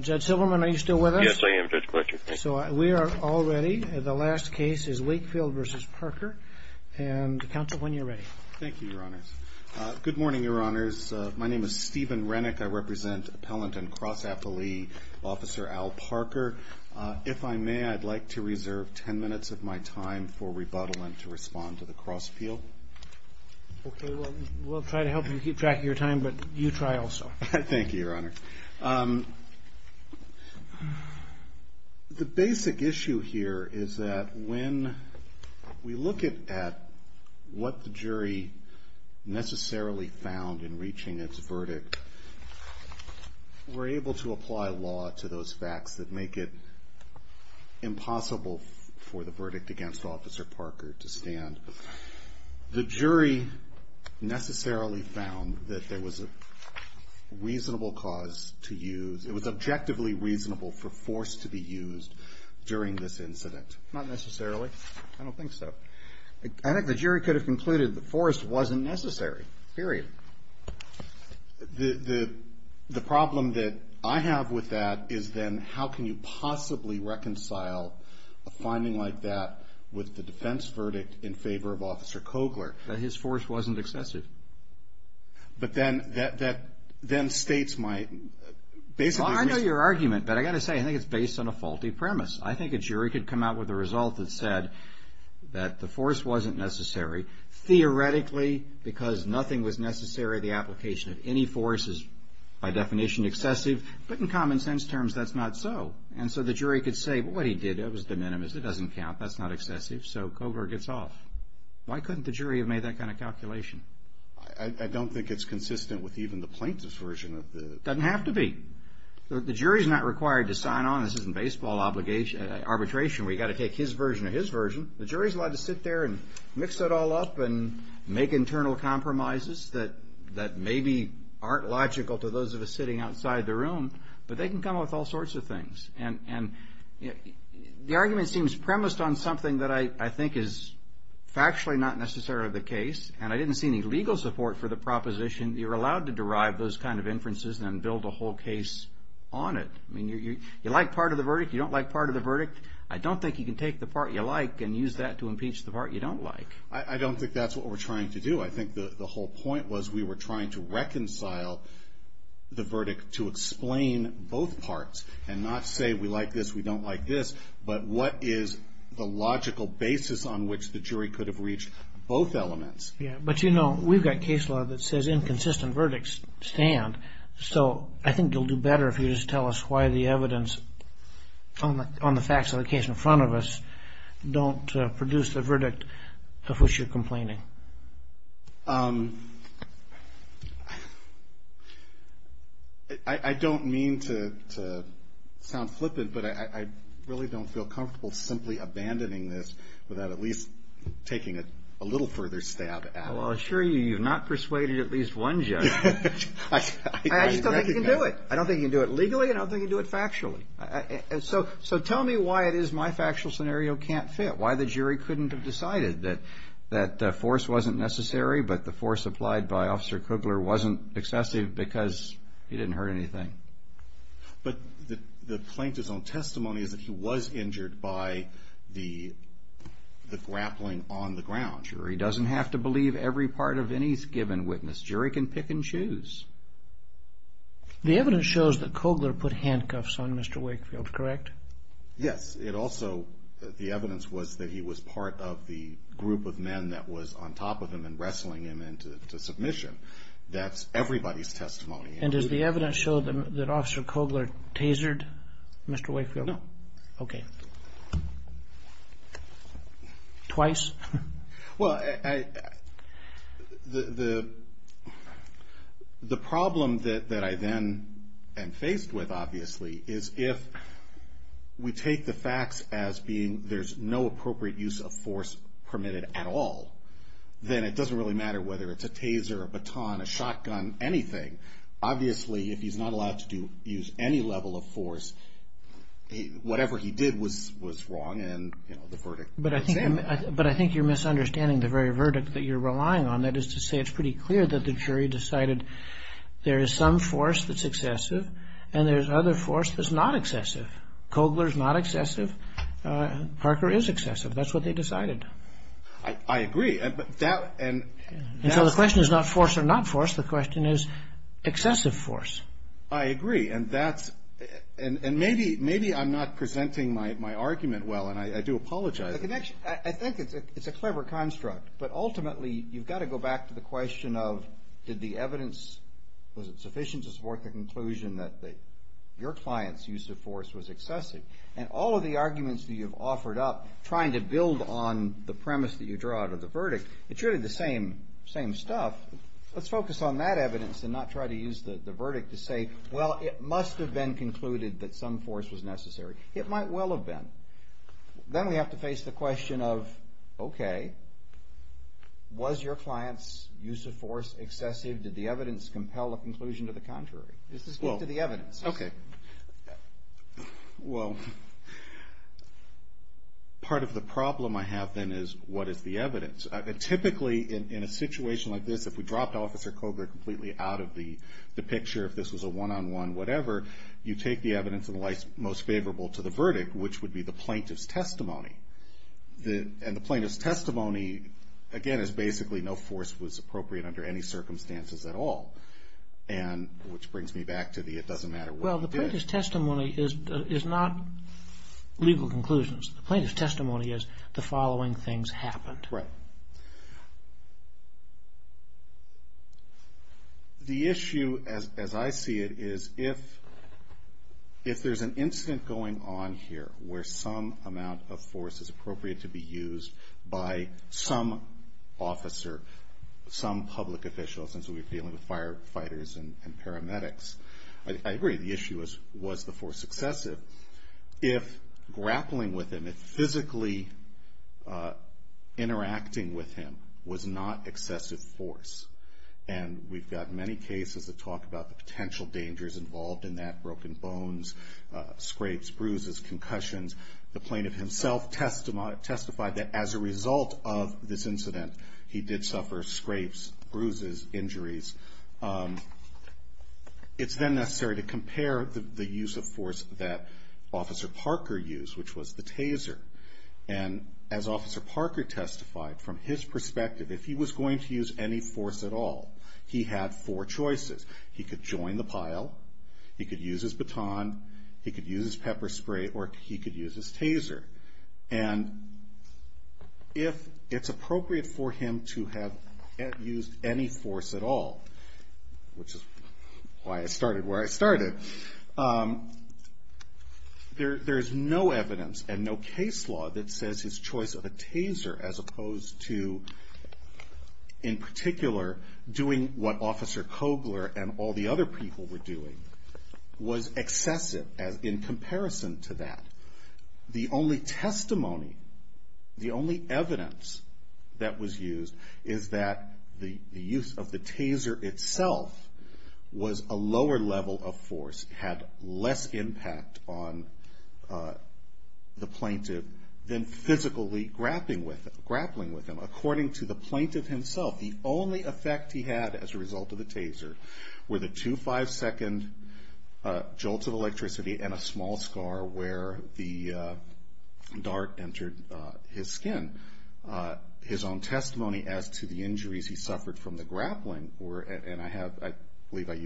Judge Silverman, are you still with us? Yes, I am, Judge Clutcher. Thank you. So we are all ready. The last case is Wakefield v. Parker, and counsel, when you're ready. Thank you, Your Honors. Good morning, Your Honors. My name is Stephen Renick. I represent appellant and cross-appellee Officer Al Parker. If I may, I'd like to reserve 10 minutes of my time for rebuttal and to respond to the cross-appeal. Okay, we'll try to help you keep track of your time, but you try also. Thank you, Your Honor. The basic issue here is that when we look at what the jury necessarily found in reaching its verdict, we're able to apply law to those facts that make it impossible for the verdict against Officer Parker to stand. The jury necessarily found that there was a reasonable cause to use. It was objectively reasonable for force to be used during this incident. Not necessarily. I don't think so. I think the jury could have concluded that force wasn't necessary. Period. The problem that I have with that is then how can you possibly reconcile a finding like that with the defense verdict in favor of Officer Kogler? That his force wasn't excessive. But then states might basically... Well, I know your argument, but I got to say, I think it's based on a faulty premise. I think a jury could come out with a result that said that the force wasn't necessary theoretically because nothing was necessary. The application of any force is by definition excessive, but in common sense terms, that's not so. And so the jury could say, well, what he did, it was de minimis. It doesn't count. That's not excessive. So Kogler gets off. Why couldn't the jury have made that kind of calculation? I don't think it's consistent with even the plaintiff's version of the... It doesn't have to be. The jury's not required to sign on. This isn't baseball arbitration where you've got to take his version or his version. The jury's allowed to sit there and mix it all up and make internal compromises that maybe aren't logical to those of us sitting outside the room, but they can come up with all sorts of things. And the argument seems premised on something that I think is factually not necessarily the case. And I didn't see any legal support for the proposition. You're allowed to derive those kind of inferences and build a whole case on it. I mean, you like part of the verdict. You don't like part of the verdict. I don't think you can take the part you like and use that to impeach the part you don't like. I don't think that's what we're trying to do. I think the whole point was we were trying to reconcile the verdict to explain both parts and not say we like this, we don't like this, but what is the logical basis on which the jury could have reached both elements. Yeah, but you know, we've got case law that says inconsistent verdicts stand. So I think you'll do better if you just tell us why the evidence on the facts of the case in front of us don't produce the verdict of which you're complaining. I don't mean to sound flippant, but I really don't feel comfortable simply abandoning this without at least taking a little further stab at it. Well, I'll assure you, you've not persuaded at least one judge. I just don't think you can do it. I don't think you can do it legally and I don't think you can do it factually. So tell me why it is my factual scenario can't fit, why the jury couldn't have decided that the force wasn't necessary but the force applied by Officer Kugler wasn't excessive because he didn't hurt anything. But the plaintiff's own testimony is that he was injured by the grappling on the ground. The jury doesn't have to believe every part of any given witness. The jury can pick and choose. The evidence shows that Kugler put handcuffs on Mr. Wakefield, correct? Yes. It also, the evidence was that he was part of the group of men that was on top of him and wrestling him into submission. That's everybody's testimony. And does the evidence show that Officer Kugler tasered Mr. Wakefield? No. Okay. Twice? Well, the problem that I then am faced with, obviously, is if we take the facts as being there's no appropriate use of force permitted at all, then it doesn't really matter whether it's a taser, a baton, a shotgun, anything. Obviously, if he's not allowed to use any level of force, whatever he did was wrong But I think you're misunderstanding the very verdict that you're relying on. That is to say it's pretty clear that the jury decided there is some force that's excessive and there's other force that's not excessive. Kugler's not excessive. Parker is excessive. That's what they decided. I agree. And so the question is not force or not force. The question is excessive force. I agree. And maybe I'm not presenting my argument well, and I do apologize. I think it's a clever construct. But ultimately, you've got to go back to the question of did the evidence, was it sufficient to support the conclusion that your client's use of force was excessive? And all of the arguments that you've offered up trying to build on the premise that you draw out of the verdict, it's really the same stuff. Let's focus on that evidence and not try to use the verdict to say, well, it must have been concluded that some force was necessary. It might well have been. Then we have to face the question of, okay, was your client's use of force excessive? Did the evidence compel a conclusion to the contrary? Does this speak to the evidence? Okay. Well, part of the problem I have then is what is the evidence? Typically, in a situation like this, if we dropped Officer Kogler completely out of the picture, if this was a one-on-one, whatever, you take the evidence in the light most favorable to the verdict, which would be the plaintiff's testimony. And the plaintiff's testimony, again, is basically no force was appropriate under any circumstances at all, which brings me back to the it doesn't matter what you did. Well, the plaintiff's testimony is not legal conclusions. The plaintiff's testimony is the following things happened. Right. The issue, as I see it, is if there's an incident going on here where some amount of force is appropriate to be used by some officer, some public official, since we're dealing with firefighters and paramedics, I agree the issue was the force excessive. If grappling with him, if physically interacting with him was not excessive force, and we've got many cases that talk about the potential dangers involved in that, broken bones, scrapes, bruises, concussions. The plaintiff himself testified that as a result of this incident, it's then necessary to compare the use of force that Officer Parker used, which was the taser. And as Officer Parker testified, from his perspective, if he was going to use any force at all, he had four choices. He could join the pile, he could use his baton, he could use his pepper spray, or he could use his taser. And if it's appropriate for him to have used any force at all, which is why I started where I started, there's no evidence and no case law that says his choice of a taser, as opposed to, in particular, doing what Officer Kogler and all the other people were doing, was excessive in comparison to that. The only testimony, the only evidence that was used, is that the use of the taser itself was a lower level of force, had less impact on the plaintiff than physically grappling with him. According to the plaintiff himself, the only effect he had as a result of the taser were the two five-second jolts of electricity and a small scar where the dart entered his skin. His own testimony as to the injuries he suffered from the grappling were, and I have, I believe I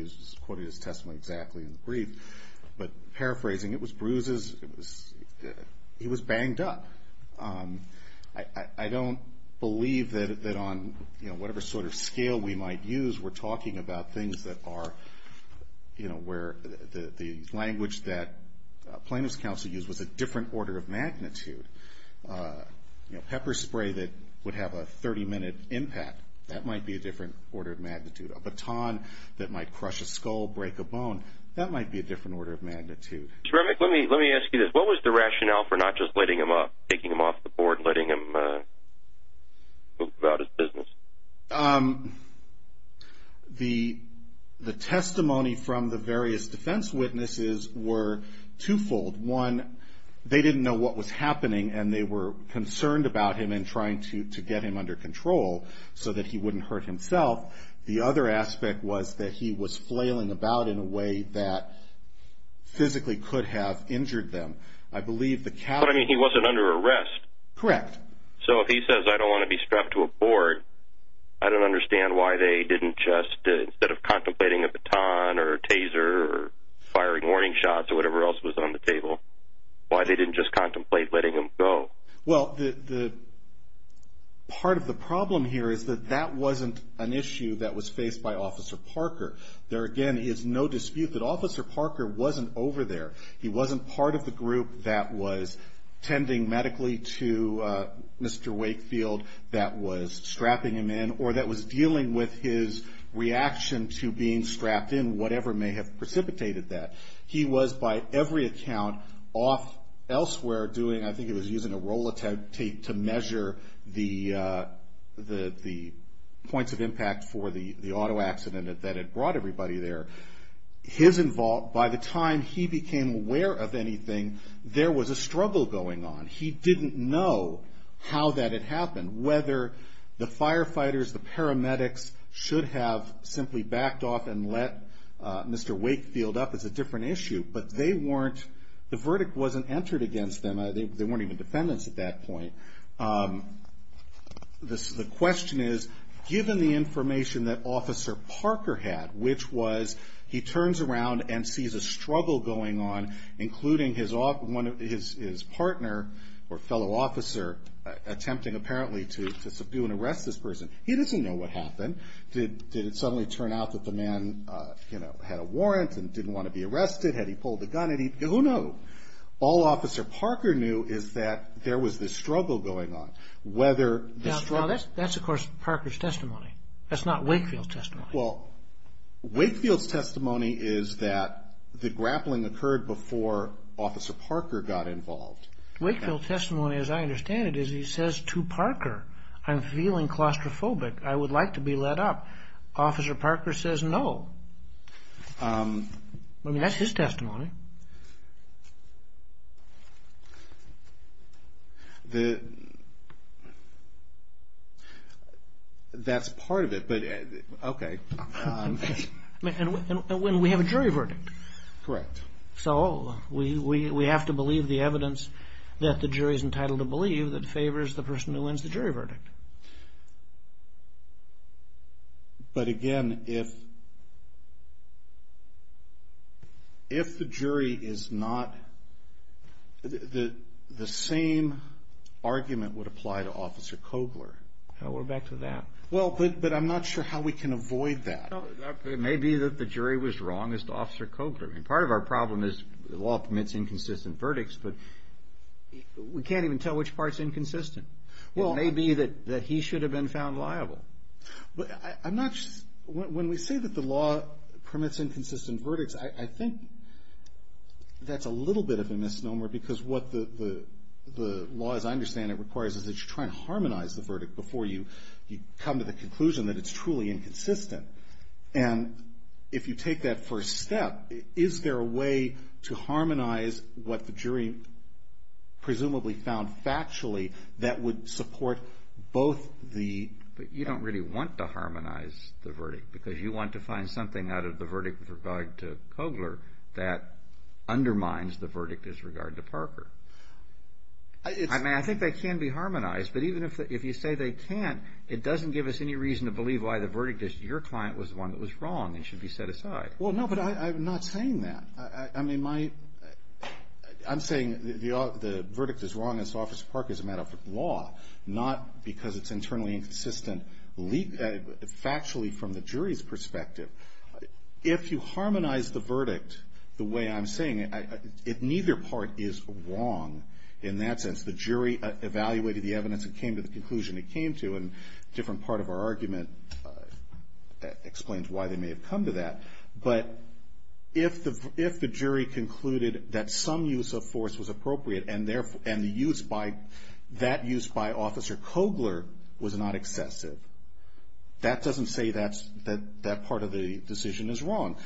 quoted his testimony exactly in the brief, but paraphrasing, it was bruises, he was banged up. I don't believe that on whatever sort of scale we might use, we're talking about things that are, where the language that plaintiff's counsel used was a different order of magnitude. Pepper spray that would have a 30-minute impact, that might be a different order of magnitude. A baton that might crush a skull, break a bone, that might be a different order of magnitude. Mr. Remick, let me ask you this, what was the rationale for not just letting him up, taking him off the board, letting him go about his business? The testimony from the various defense witnesses were twofold. One, they didn't know what was happening and they were concerned about him and trying to get him under control so that he wouldn't hurt himself. The other aspect was that he was flailing about in a way that physically could have injured them. But I mean, he wasn't under arrest. Correct. So if he says, I don't want to be strapped to a board, I don't understand why they didn't just, instead of contemplating a baton or a taser or firing warning shots or whatever else was on the table, why they didn't just contemplate letting him go? Well, part of the problem here is that that wasn't an issue that was faced by Officer Parker. There again is no dispute that Officer Parker wasn't over there. He wasn't part of the group that was tending medically to Mr. Wakefield that was strapping him in or that was dealing with his reaction to being strapped in, whatever may have precipitated that. He was, by every account, off elsewhere doing, I think he was using a roll of tape to measure the points of impact for the auto accident that had brought everybody there. By the time he became aware of anything, there was a struggle going on. He didn't know how that had happened, whether the firefighters, the paramedics should have simply backed off and let Mr. Wakefield up. It's a different issue, but the verdict wasn't entered against them. They weren't even defendants at that point. The question is, given the information that Officer Parker had, which was he turns around and sees a struggle going on, including his partner or fellow officer attempting apparently to subdue and arrest this person. He doesn't know what happened. Did it suddenly turn out that the man had a warrant and didn't want to be arrested? Had he pulled the gun? Who knew? All Officer Parker knew is that there was this struggle going on. That's, of course, Parker's testimony. That's not Wakefield's testimony. Wakefield's testimony is that the grappling occurred before Officer Parker got involved. Wakefield's testimony, as I understand it, is he says to Parker, I'm feeling claustrophobic. I would like to be let up. Officer Parker says no. I mean, that's his testimony. That's part of it. And we have a jury verdict. So we have to believe the evidence that the jury is entitled to believe that favors the person who wins the jury verdict. But again, if the jury is not, the same argument would apply to Officer Kobler. But I'm not sure how we can avoid that. It may be that the jury was wrong as to Officer Kobler. Part of our problem is the law permits inconsistent verdicts, but we can't even tell which part is inconsistent. It may be that he should have been found liable. When we say that the law permits inconsistent verdicts, I think that's a little bit of a misnomer, because what the law, as I understand it, requires is that you try to harmonize the verdict before you come to the conclusion that it's truly inconsistent. And if you take that first step, is there a way to harmonize what the jury presumably found factually that would support both the... But you don't really want to harmonize the verdict, because you want to find something out of the verdict with regard to Kobler that undermines the verdict as regard to Parker. I mean, I think they can be harmonized, but even if you say they can't, it doesn't give us any reason to believe why the verdict as to your client was the one that was wrong and should be set aside. Well, no, but I'm not saying that. I'm saying the verdict is wrong as to Officer Parker as a matter of law, not because it's internally inconsistent factually from the jury's perspective. If you harmonize the verdict the way I'm saying it, neither part is wrong in that sense. The jury evaluated the evidence and came to the conclusion it came to, and a different part of our argument explains why they may have come to that. But if the jury concluded that some use of force was appropriate and that use by Officer Kobler was not excessive, that doesn't say that part of the decision is wrong.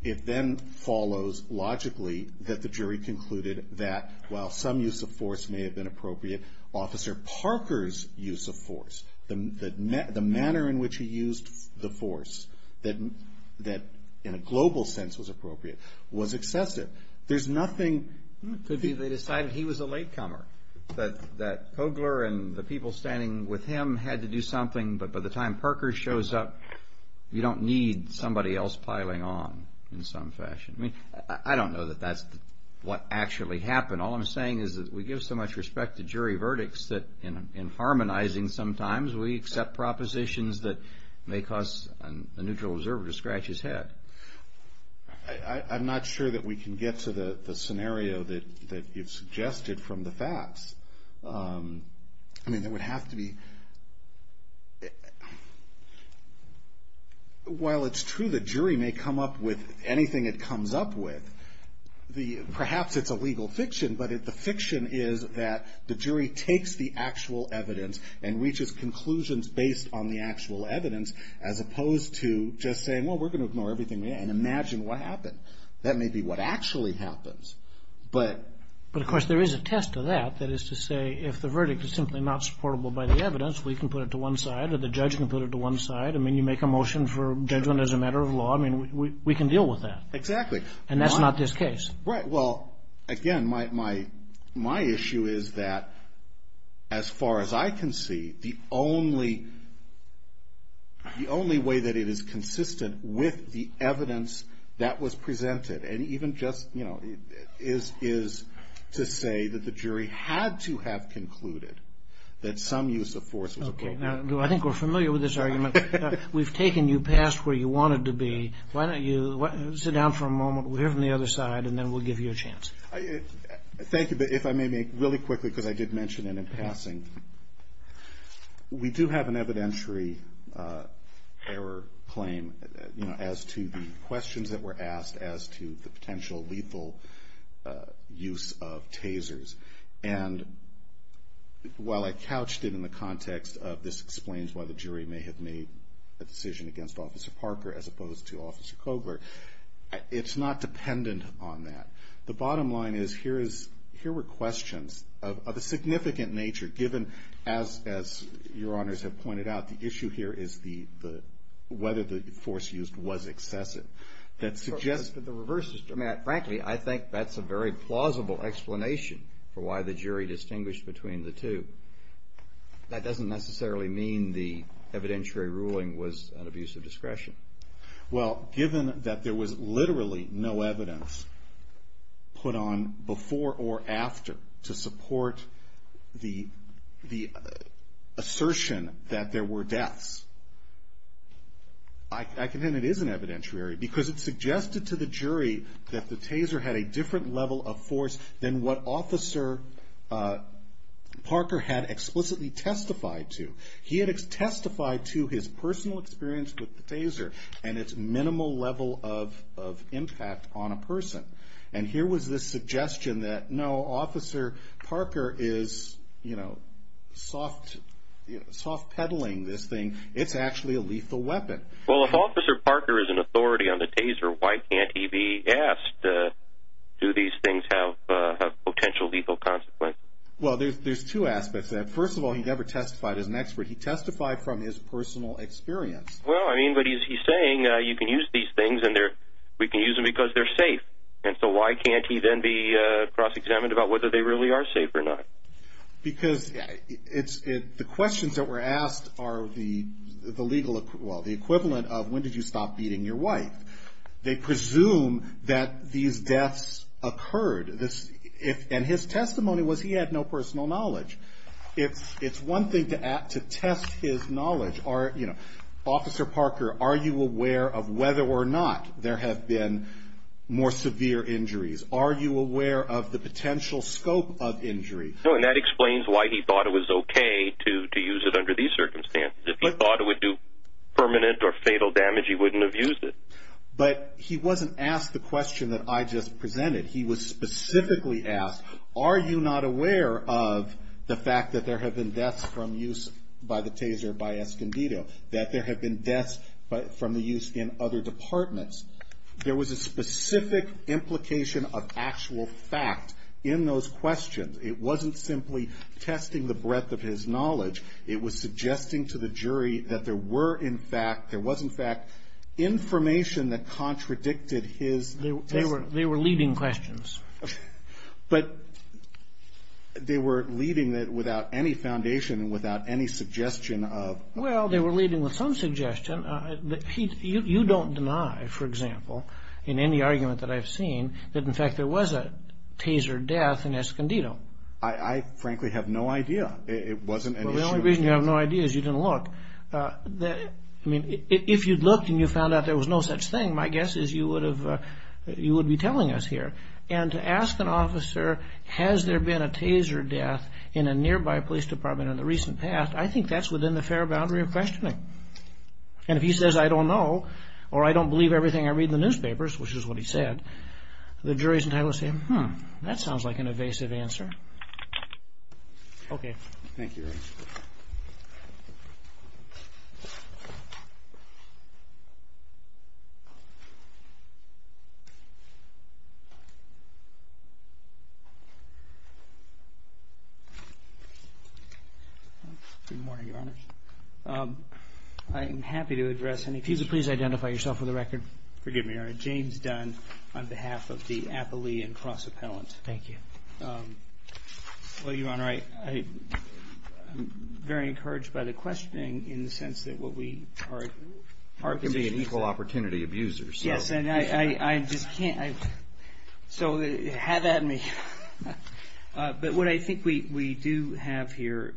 It then follows logically that the jury concluded that, while some use of force may have been appropriate, Officer Parker's use of force, the manner in which he used the force that in a global sense was appropriate, was excessive. There's nothing... They decided he was a latecomer, that Kobler and the people standing with him had to do something, but by the time Parker shows up, you don't need somebody else piling on in some fashion. I don't know that that's what actually happened. All I'm saying is that we give so much respect to jury verdicts that in harmonizing sometimes we accept propositions that may cause a neutral observer to scratch his head. I'm not sure that we can get to the scenario that you've suggested from the facts. While it's true the jury may come up with anything it comes up with, perhaps it's a legal fiction, but the fiction is that the jury takes the actual evidence and reaches conclusions based on the actual evidence as opposed to just saying, well, we're going to ignore everything and imagine what happened. That may be what actually happens, but... But of course there is a test to that, that is to say if the verdict is simply not supportable by the evidence, we can put it to one side or the judge can put it to one side. I mean, you make a motion for judgment as a matter of law, I mean, we can deal with that. And that's not this case. Right, well, again, my issue is that as far as I can see, the only way that it is consistent with the evidence that was presented, and even just, you know, is to say that the jury had to have concluded that some use of force was appropriate. Okay, I think we're familiar with this argument. We've taken you past where you wanted to be. Why don't you sit down for a moment, we'll hear from the other side, and then we'll give you a chance. Thank you, but if I may make really quickly, because I did mention it in passing, we do have an evidentiary error claim, you know, as to the questions that were asked as to the potential lethal use of tasers. And while I couched it in the context of this explains why the jury may have made a decision against Officer Parker as opposed to Officer Kogler, it's not dependent on that. The bottom line is, here were questions of a significant nature, given, as your honors have pointed out, the issue here is whether the force used was excessive. Frankly, I think that's a very plausible explanation for why the jury distinguished between the two. That doesn't necessarily mean the evidentiary ruling was an abuse of discretion. Well, given that there was literally no evidence put on before or after to support the assertion that there were deaths, I contend it is an evidentiary, because it suggested to the jury that the taser had a different level of force than what Officer Parker had explicitly testified to. He had testified to his personal experience with the taser and its minimal level of impact on a person. And here was this suggestion that, no, Officer Parker is, you know, soft peddling this thing. It's actually a lethal weapon. Well, if Officer Parker is an authority on the taser, why can't he be asked, do these things have potential lethal consequences? Well, there's two aspects to that. First of all, he never testified as an expert. He testified from his personal experience. Well, I mean, but he's saying you can use these things and we can use them because they're safe. And so why can't he then be cross-examined about whether they really are safe or not? Because the questions that were asked are the legal equivalent of when did you stop beating your wife? They presume that these deaths occurred. And his testimony was he had no personal knowledge. It's one thing to test his knowledge. Officer Parker, are you aware of whether or not there have been more severe injuries? Are you aware of the potential scope of injuries? No, and that explains why he thought it was okay to use it under these circumstances. If he thought it would do permanent or fatal damage, he wouldn't have used it. But he wasn't asked the question that I just presented. He was specifically asked, are you not aware of the fact that there have been deaths from use by the taser by Escondido? That there have been deaths from the use in other departments? There was a specific implication of actual fact in those questions. It wasn't simply testing the breadth of his knowledge. It was suggesting to the jury that there were, in fact, there was, in fact, information that contradicted his testimony. They were leading questions. But they were leading it without any foundation, without any suggestion of... Well, they were leading with some suggestion. You don't deny, for example, in any argument that I've seen, that in fact there was a taser death in Escondido. I frankly have no idea. It wasn't an issue. Well, the only reason you have no idea is you didn't look. If you'd looked and you found out there was no such thing, my guess is you would be telling us here. And to ask an officer, has there been a taser death in a nearby police department in the recent past, I think that's within the fair boundary of questioning. And if he says, I don't know, or I don't believe everything I read in the newspapers, which is what he said, the jury's entitled to say, hmm, that sounds like an evasive answer. Good morning, Your Honor. I am happy to address any... Please identify yourself for the record. Forgive me, Your Honor. James Dunn, on behalf of the Appalachian Cross Appellant. Thank you. Well, Your Honor, I'm very encouraged by the questioning in the sense that what we are... We can be an equal opportunity abuser. So have at me. But what I think we do have here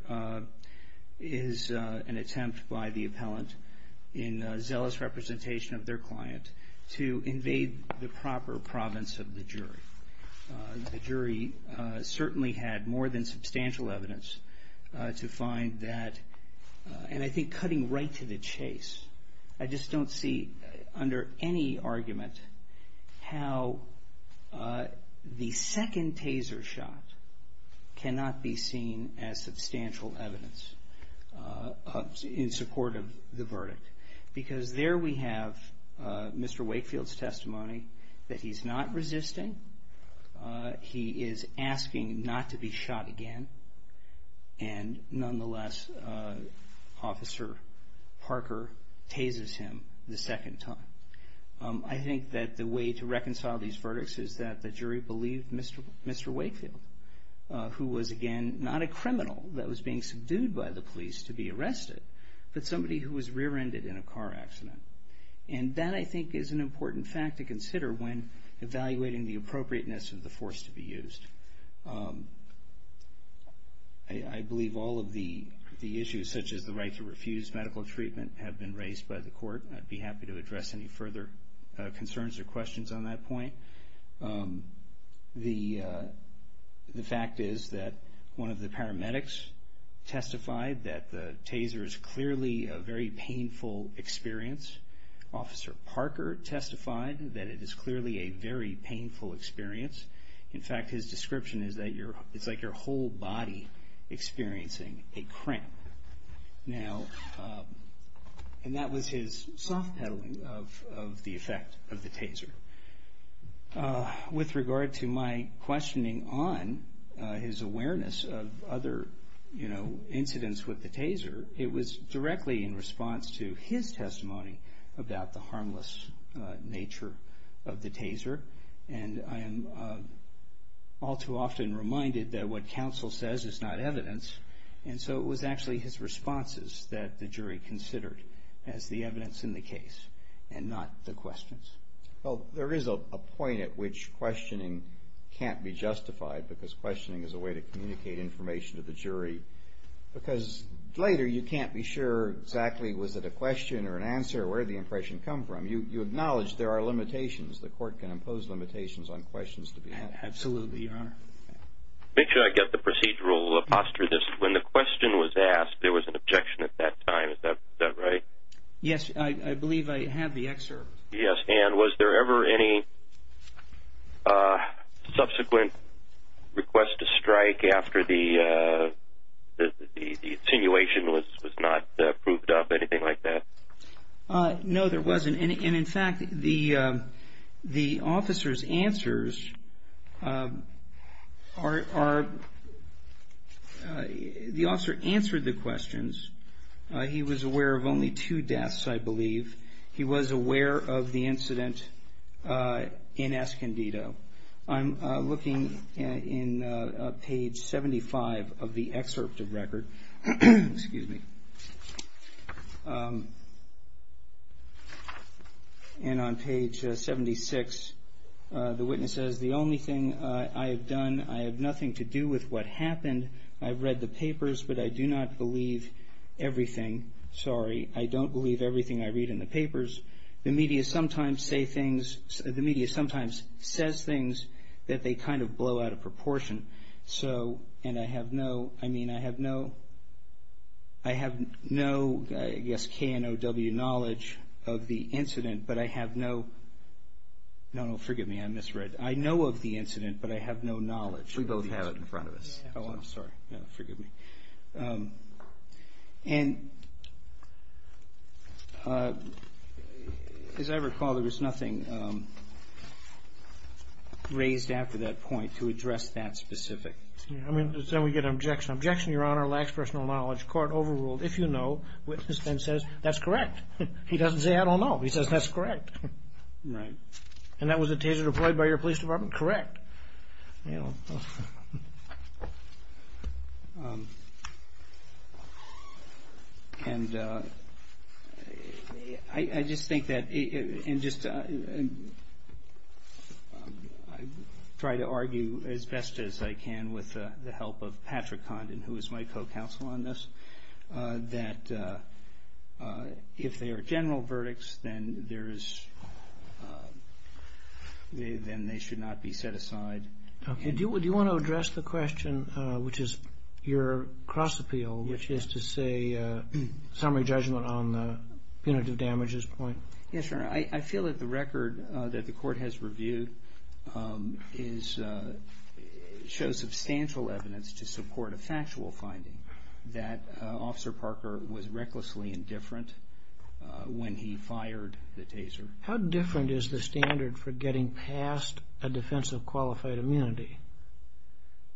is an attempt by the appellant, in zealous representation of their client, to invade the proper province of the jury. The jury certainly had more than substantial evidence to find that, and I think cutting right to the chase, I just don't see, under any argument, how the second taser shot cannot be seen as substantial evidence in support of the verdict, because there we have Mr. Wakefield's testimony that he's not resisting, he is asking not to be shot again, and nonetheless, Officer Parker tasers him the second time. I think that the way to reconcile these verdicts is that the jury believed Mr. Wakefield, who was, again, not a criminal that was being subdued by the police to be arrested, but somebody who was rear-ended in a car accident, and that, I think, is an important fact to consider when evaluating the appropriateness of the force to be used. I believe all of the issues, such as the right to refuse medical treatment, have been raised by the court, and I'd be happy to address any further concerns or questions on that point. The fact is that one of the paramedics testified that the taser is clearly a very painful experience. Officer Parker testified that it is clearly a very painful experience. In fact, his description is that it's like your whole body experiencing a cramp. And that was his soft peddling of the effect of the taser. With regard to my questioning on his awareness of other incidents with the taser, it was directly in response to his testimony about the harmless nature of the taser, and I am all too often reminded that what counsel says is not evidence, and so it was actually his responses that the jury considered as the evidence in the case and not the questions. Well, there is a point at which questioning can't be justified, because questioning is a way to communicate information to the jury, because later you can't be sure exactly was it a question or an answer or where the impression come from. You acknowledge there are limitations. The court can impose limitations on questions to be had. Absolutely, Your Honor. Make sure I get the procedural posture. When the question was asked, there was an objection at that time, is that right? Yes, I believe I have the excerpt. Yes, and was there ever any subsequent request to strike after the insinuation was not proved up, anything like that? No, there wasn't, and in fact, the officer's answers are, the officer answered the questions. He was aware of only two deaths, I believe. He was aware of the incident in Escondido. I'm looking in page 75 of the excerpt of record. And on page 76, the witness says, the only thing I have done, I have nothing to do with what happened. I've read the papers, but I do not believe everything. Sorry, I don't believe everything I read in the papers. The media sometimes says things that they kind of blow out of proportion, and I have no, I mean, I have no, I guess, KNOW knowledge of the incident, but I have no, no, no, forgive me, I misread, I know of the incident, but I have no knowledge. We both have it in front of us. And, as I recall, there was nothing raised after that point to address that specific. I mean, then we get an objection. Objection, Your Honor, lacks personal knowledge. Court overruled. If you know, witness then says, that's correct. He doesn't say, I don't know. He says, that's correct. Right. And that was a taser deployed by your police department? Correct. And I just think that, I try to argue as best as I can with the help of Patrick Condon, who is my co-counsel on this, that if they are general verdicts, then there is, then they should not be set aside. Okay. Do you want to address the question, which is your cross-appeal, which is to say summary judgment on the punitive damages point? Yes, Your Honor. I feel that the record that the court has reviewed shows substantial evidence to support a factual finding that Officer Parker was recklessly indifferent when he fired the taser. How different is the standard for getting past a defense of qualified immunity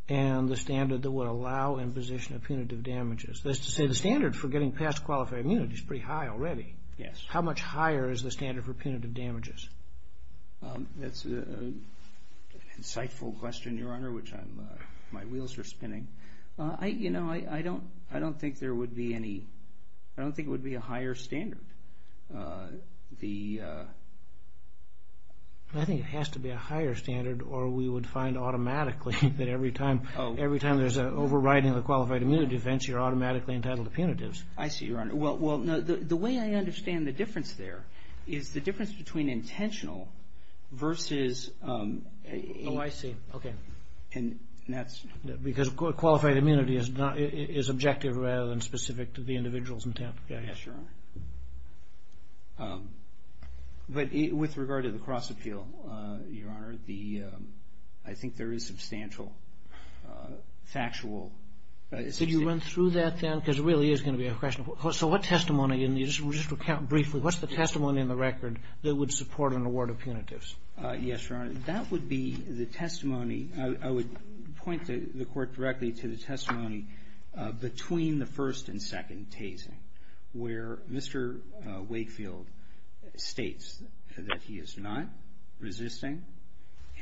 and the standard that would allow imposition of punitive damages? That is to say, the standard for getting past qualified immunity is pretty high already. Yes. How much higher is the standard for punitive damages? That's an insightful question, Your Honor, which I'm, my wheels are spinning. I don't think there would be any, I don't think it would be a higher standard. I think it has to be a higher standard or we would find automatically that every time there's an overriding of the qualified immunity defense, you're automatically entitled to punitives. I see, Your Honor. Well, the way I understand the difference there is the difference between intentional versus... Oh, I see. Okay. Because qualified immunity is objective rather than specific to the individuals in Tampa. Yes, Your Honor. But with regard to the cross-appeal, Your Honor, I think there is substantial factual... Did you run through that then? Because it really is going to be a question. So what testimony, just to recount briefly, what's the testimony in the record that would support an award of punitives? Yes, Your Honor. That would be the testimony, I would point the Court directly to the testimony between the first and second tasing where Mr. Wakefield states that he is not resisting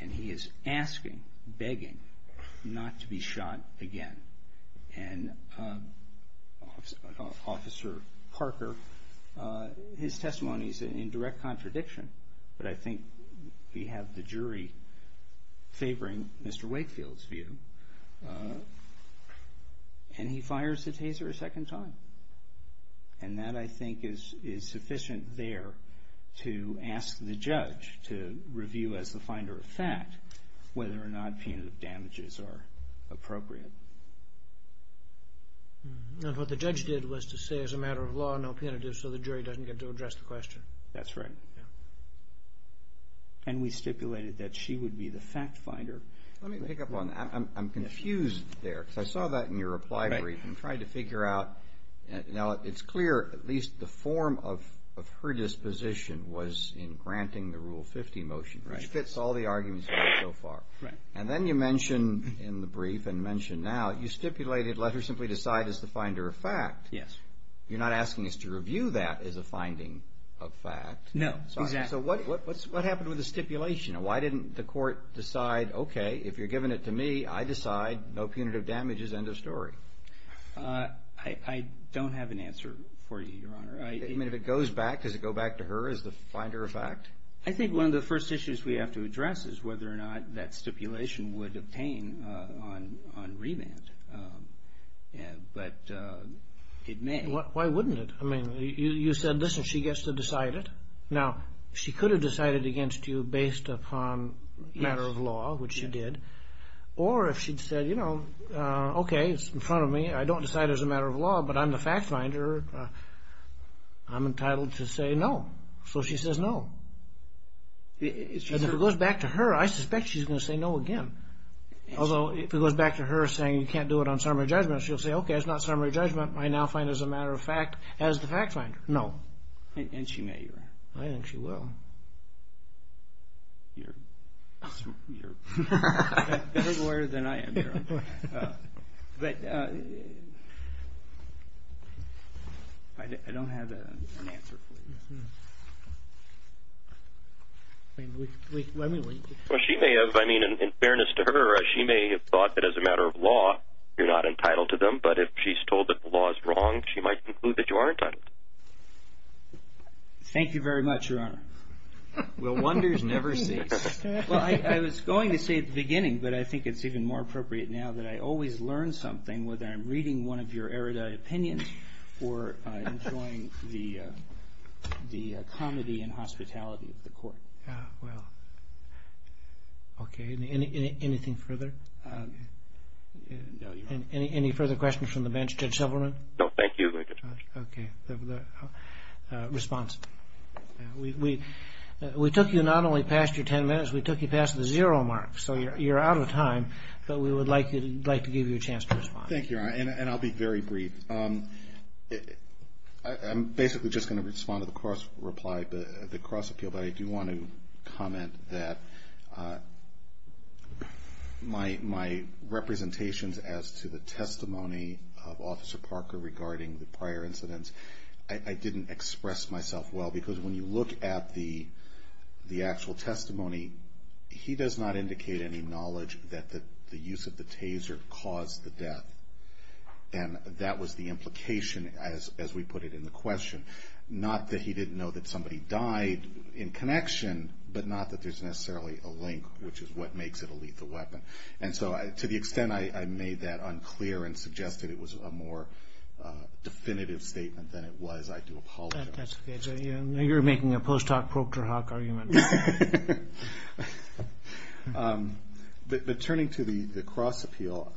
and he is asking, begging, not to be shot again. And Officer Parker, his testimony is in direct contradiction, but I think we have the jury favoring Mr. Wakefield's view, and he fires the taser a second time. And that, I think, is sufficient there to ask the judge to review as the finder of fact whether or not punitive damages are appropriate. And what the judge did was to say, as a matter of law, no punitive, so the jury doesn't get to address the question. That's right. And we stipulated that she would be the fact finder. Let me pick up on that. I'm confused there, because I saw that in your reply where you tried to figure out... Now, it's clear, at least the form of her disposition was in granting the Rule 50 motion, which fits all the arguments so far. And then you mention in the brief and mention now, you stipulated let her simply decide as the finder of fact. You're not asking us to review that as a finding of fact. No, exactly. So what happened with the stipulation? Why didn't the Court decide, okay, if you're giving it to me, I decide, no punitive damages, end of story? I don't have an answer for you, Your Honor. I mean, if it goes back, does it go back to her as the finder of fact? I think one of the first issues we have to address is whether or not that stipulation would obtain on remand. But it may. Why wouldn't it? I mean, you said, listen, she gets to decide it. Now, she could have decided against you based upon matter of law, which she did. Or if she'd said, you know, okay, it's in front of me, I don't decide as a matter of law, but I'm the fact finder, I'm entitled to say no. So she says no. And if it goes back to her, I suspect she's going to say no again. Although if it goes back to her saying you can't do it on summary judgment, she'll say, okay, it's not summary judgment. I now find as a matter of fact, as the fact finder, no. And she may, Your Honor. I think she will. I don't have an answer for you. Well, she may have. I mean, in fairness to her, she may have thought that as a matter of law, you're not entitled to them. But if she's told that the law is wrong, she might conclude that you are entitled. Thank you very much, Your Honor. Well, wonders never cease. Well, I was going to say at the beginning, but I think it's even more appropriate now that I always learn something, whether I'm reading one of your erudite opinions or enjoying the comedy and hospitality of the court. Well, okay. Anything further? No, Your Honor. Okay. Thank you, Your Honor. And I'll be very brief. I'm basically just going to respond to the cross-reply, the cross-appeal, but I do want to comment that my representations as to the testimony of Officer Parker regarding the prior incidents, I didn't express myself well, because when you look at the actual testimony, he does not indicate any knowledge that the use of the taser caused the death. And that was the implication, as we put it in the question. Not that he didn't know that somebody died in connection, but not that there's necessarily a link, which is what makes it a lethal weapon. And so to the extent I made that unclear and suggested it was a more definitive statement than it was, I do apologize. But turning to the cross-appeal,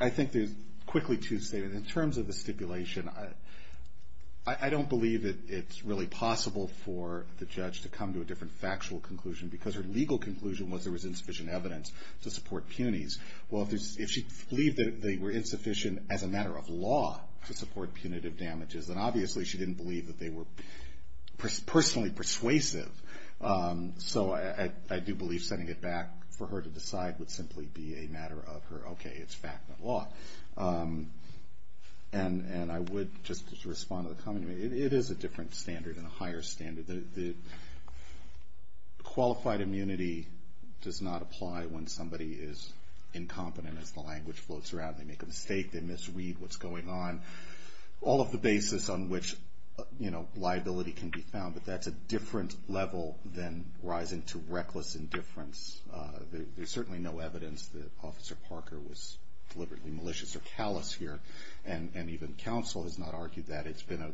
I think there's quickly two statements. In terms of the stipulation, I don't believe that it's really possible for the judge to come to a different factual conclusion, because her legal conclusion was there was insufficient evidence to support punies. Well, if she believed that they were insufficient as a matter of law to support punitive damages, then obviously she didn't believe that they were personally persuasive. So I do believe setting it back for her to decide would simply be a matter of her, okay, it's fact, not law. And I would just respond to the comment. It is a different standard and a higher standard. Qualified immunity does not apply when somebody is incompetent, as the language floats around. They make a mistake, they misread what's going on. All of the basis on which liability can be found, but that's a different level than rising to reckless indifference. There's certainly no evidence that Officer Parker was deliberately malicious or callous here, and even counsel has not argued that. It's been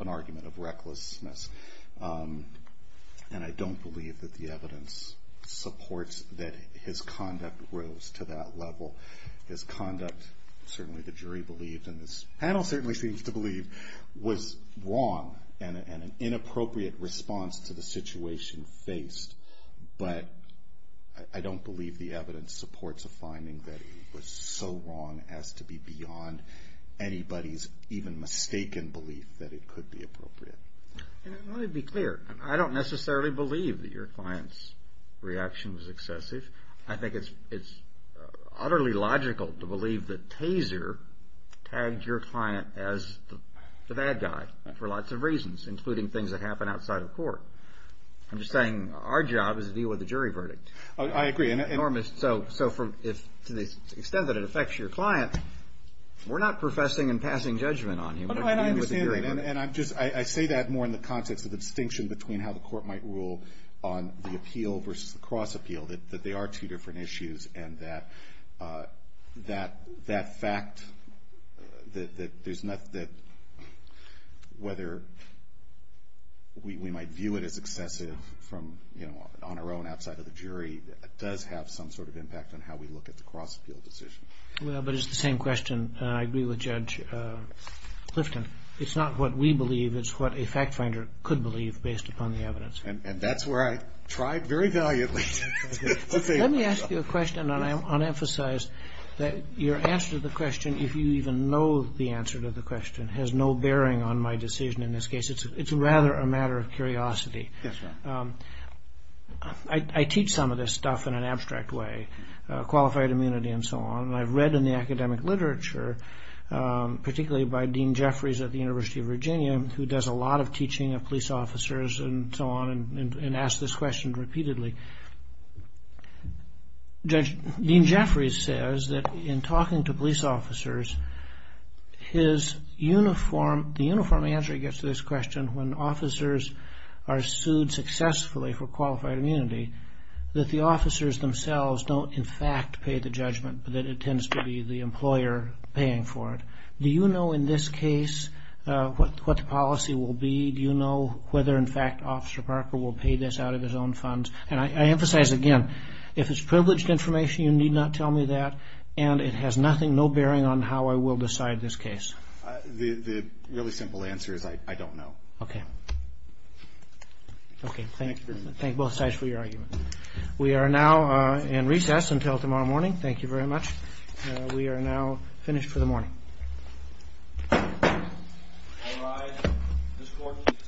an argument of recklessness. And I don't believe that the evidence supports that his conduct rose to that level. His conduct, certainly the jury believed, and this panel certainly seems to believe, was wrong and an inappropriate response to the situation faced, but I don't believe the evidence supports a finding that he was so wrong as to be beyond anybody's even mistaken belief that it could be appropriate. And let me be clear. I don't necessarily believe that your client's reaction was excessive. I think it's utterly logical to believe that Taser tagged your client as the bad guy for lots of reasons, including things that happen outside of court. I'm just saying our job is to deal with the jury verdict. I agree. So to the extent that it affects your client, we're not professing and passing judgment on you. And I understand, and I say that more in the context of the distinction between how the court might rule on the appeal versus the cross-appeal, that they are two different issues, and that fact that there's nothing that, whether we might view it as excessive on our own outside of the jury, does have some sort of impact on how we look at the cross-appeal decision. Well, but it's the same question, and I agree with Judge Clifton. It's not what we believe. It's what a fact finder could believe, based upon the evidence. And that's where I tried very valiantly. Let me ask you a question, and I want to emphasize that your answer to the question, if you even know the answer to the question, has no bearing on my decision in this case. It's rather a matter of curiosity. I teach some of this stuff in an abstract way, qualified immunity and so on, and I've read in the academic literature, particularly by Dean Jeffries at the University of Virginia, who does a lot of teaching of police officers and so on, and asks this question repeatedly. Dean Jeffries says that in talking to police officers, the uniform answer he gets to this question, when officers are sued successfully for qualified immunity, that the officers themselves don't, in fact, pay the judgment, but that it tends to be the employer paying for it. Do you know, in this case, what the policy will be? Do you know whether, in fact, Officer Parker will pay this out of his own funds? And I emphasize again, if it's privileged information, you need not tell me that, and it has no bearing on how I will decide this case. The really simple answer is I don't know. We are now in recess until tomorrow morning. Thank you very much. We are now finished for the morning. All rise. The session is adjourned.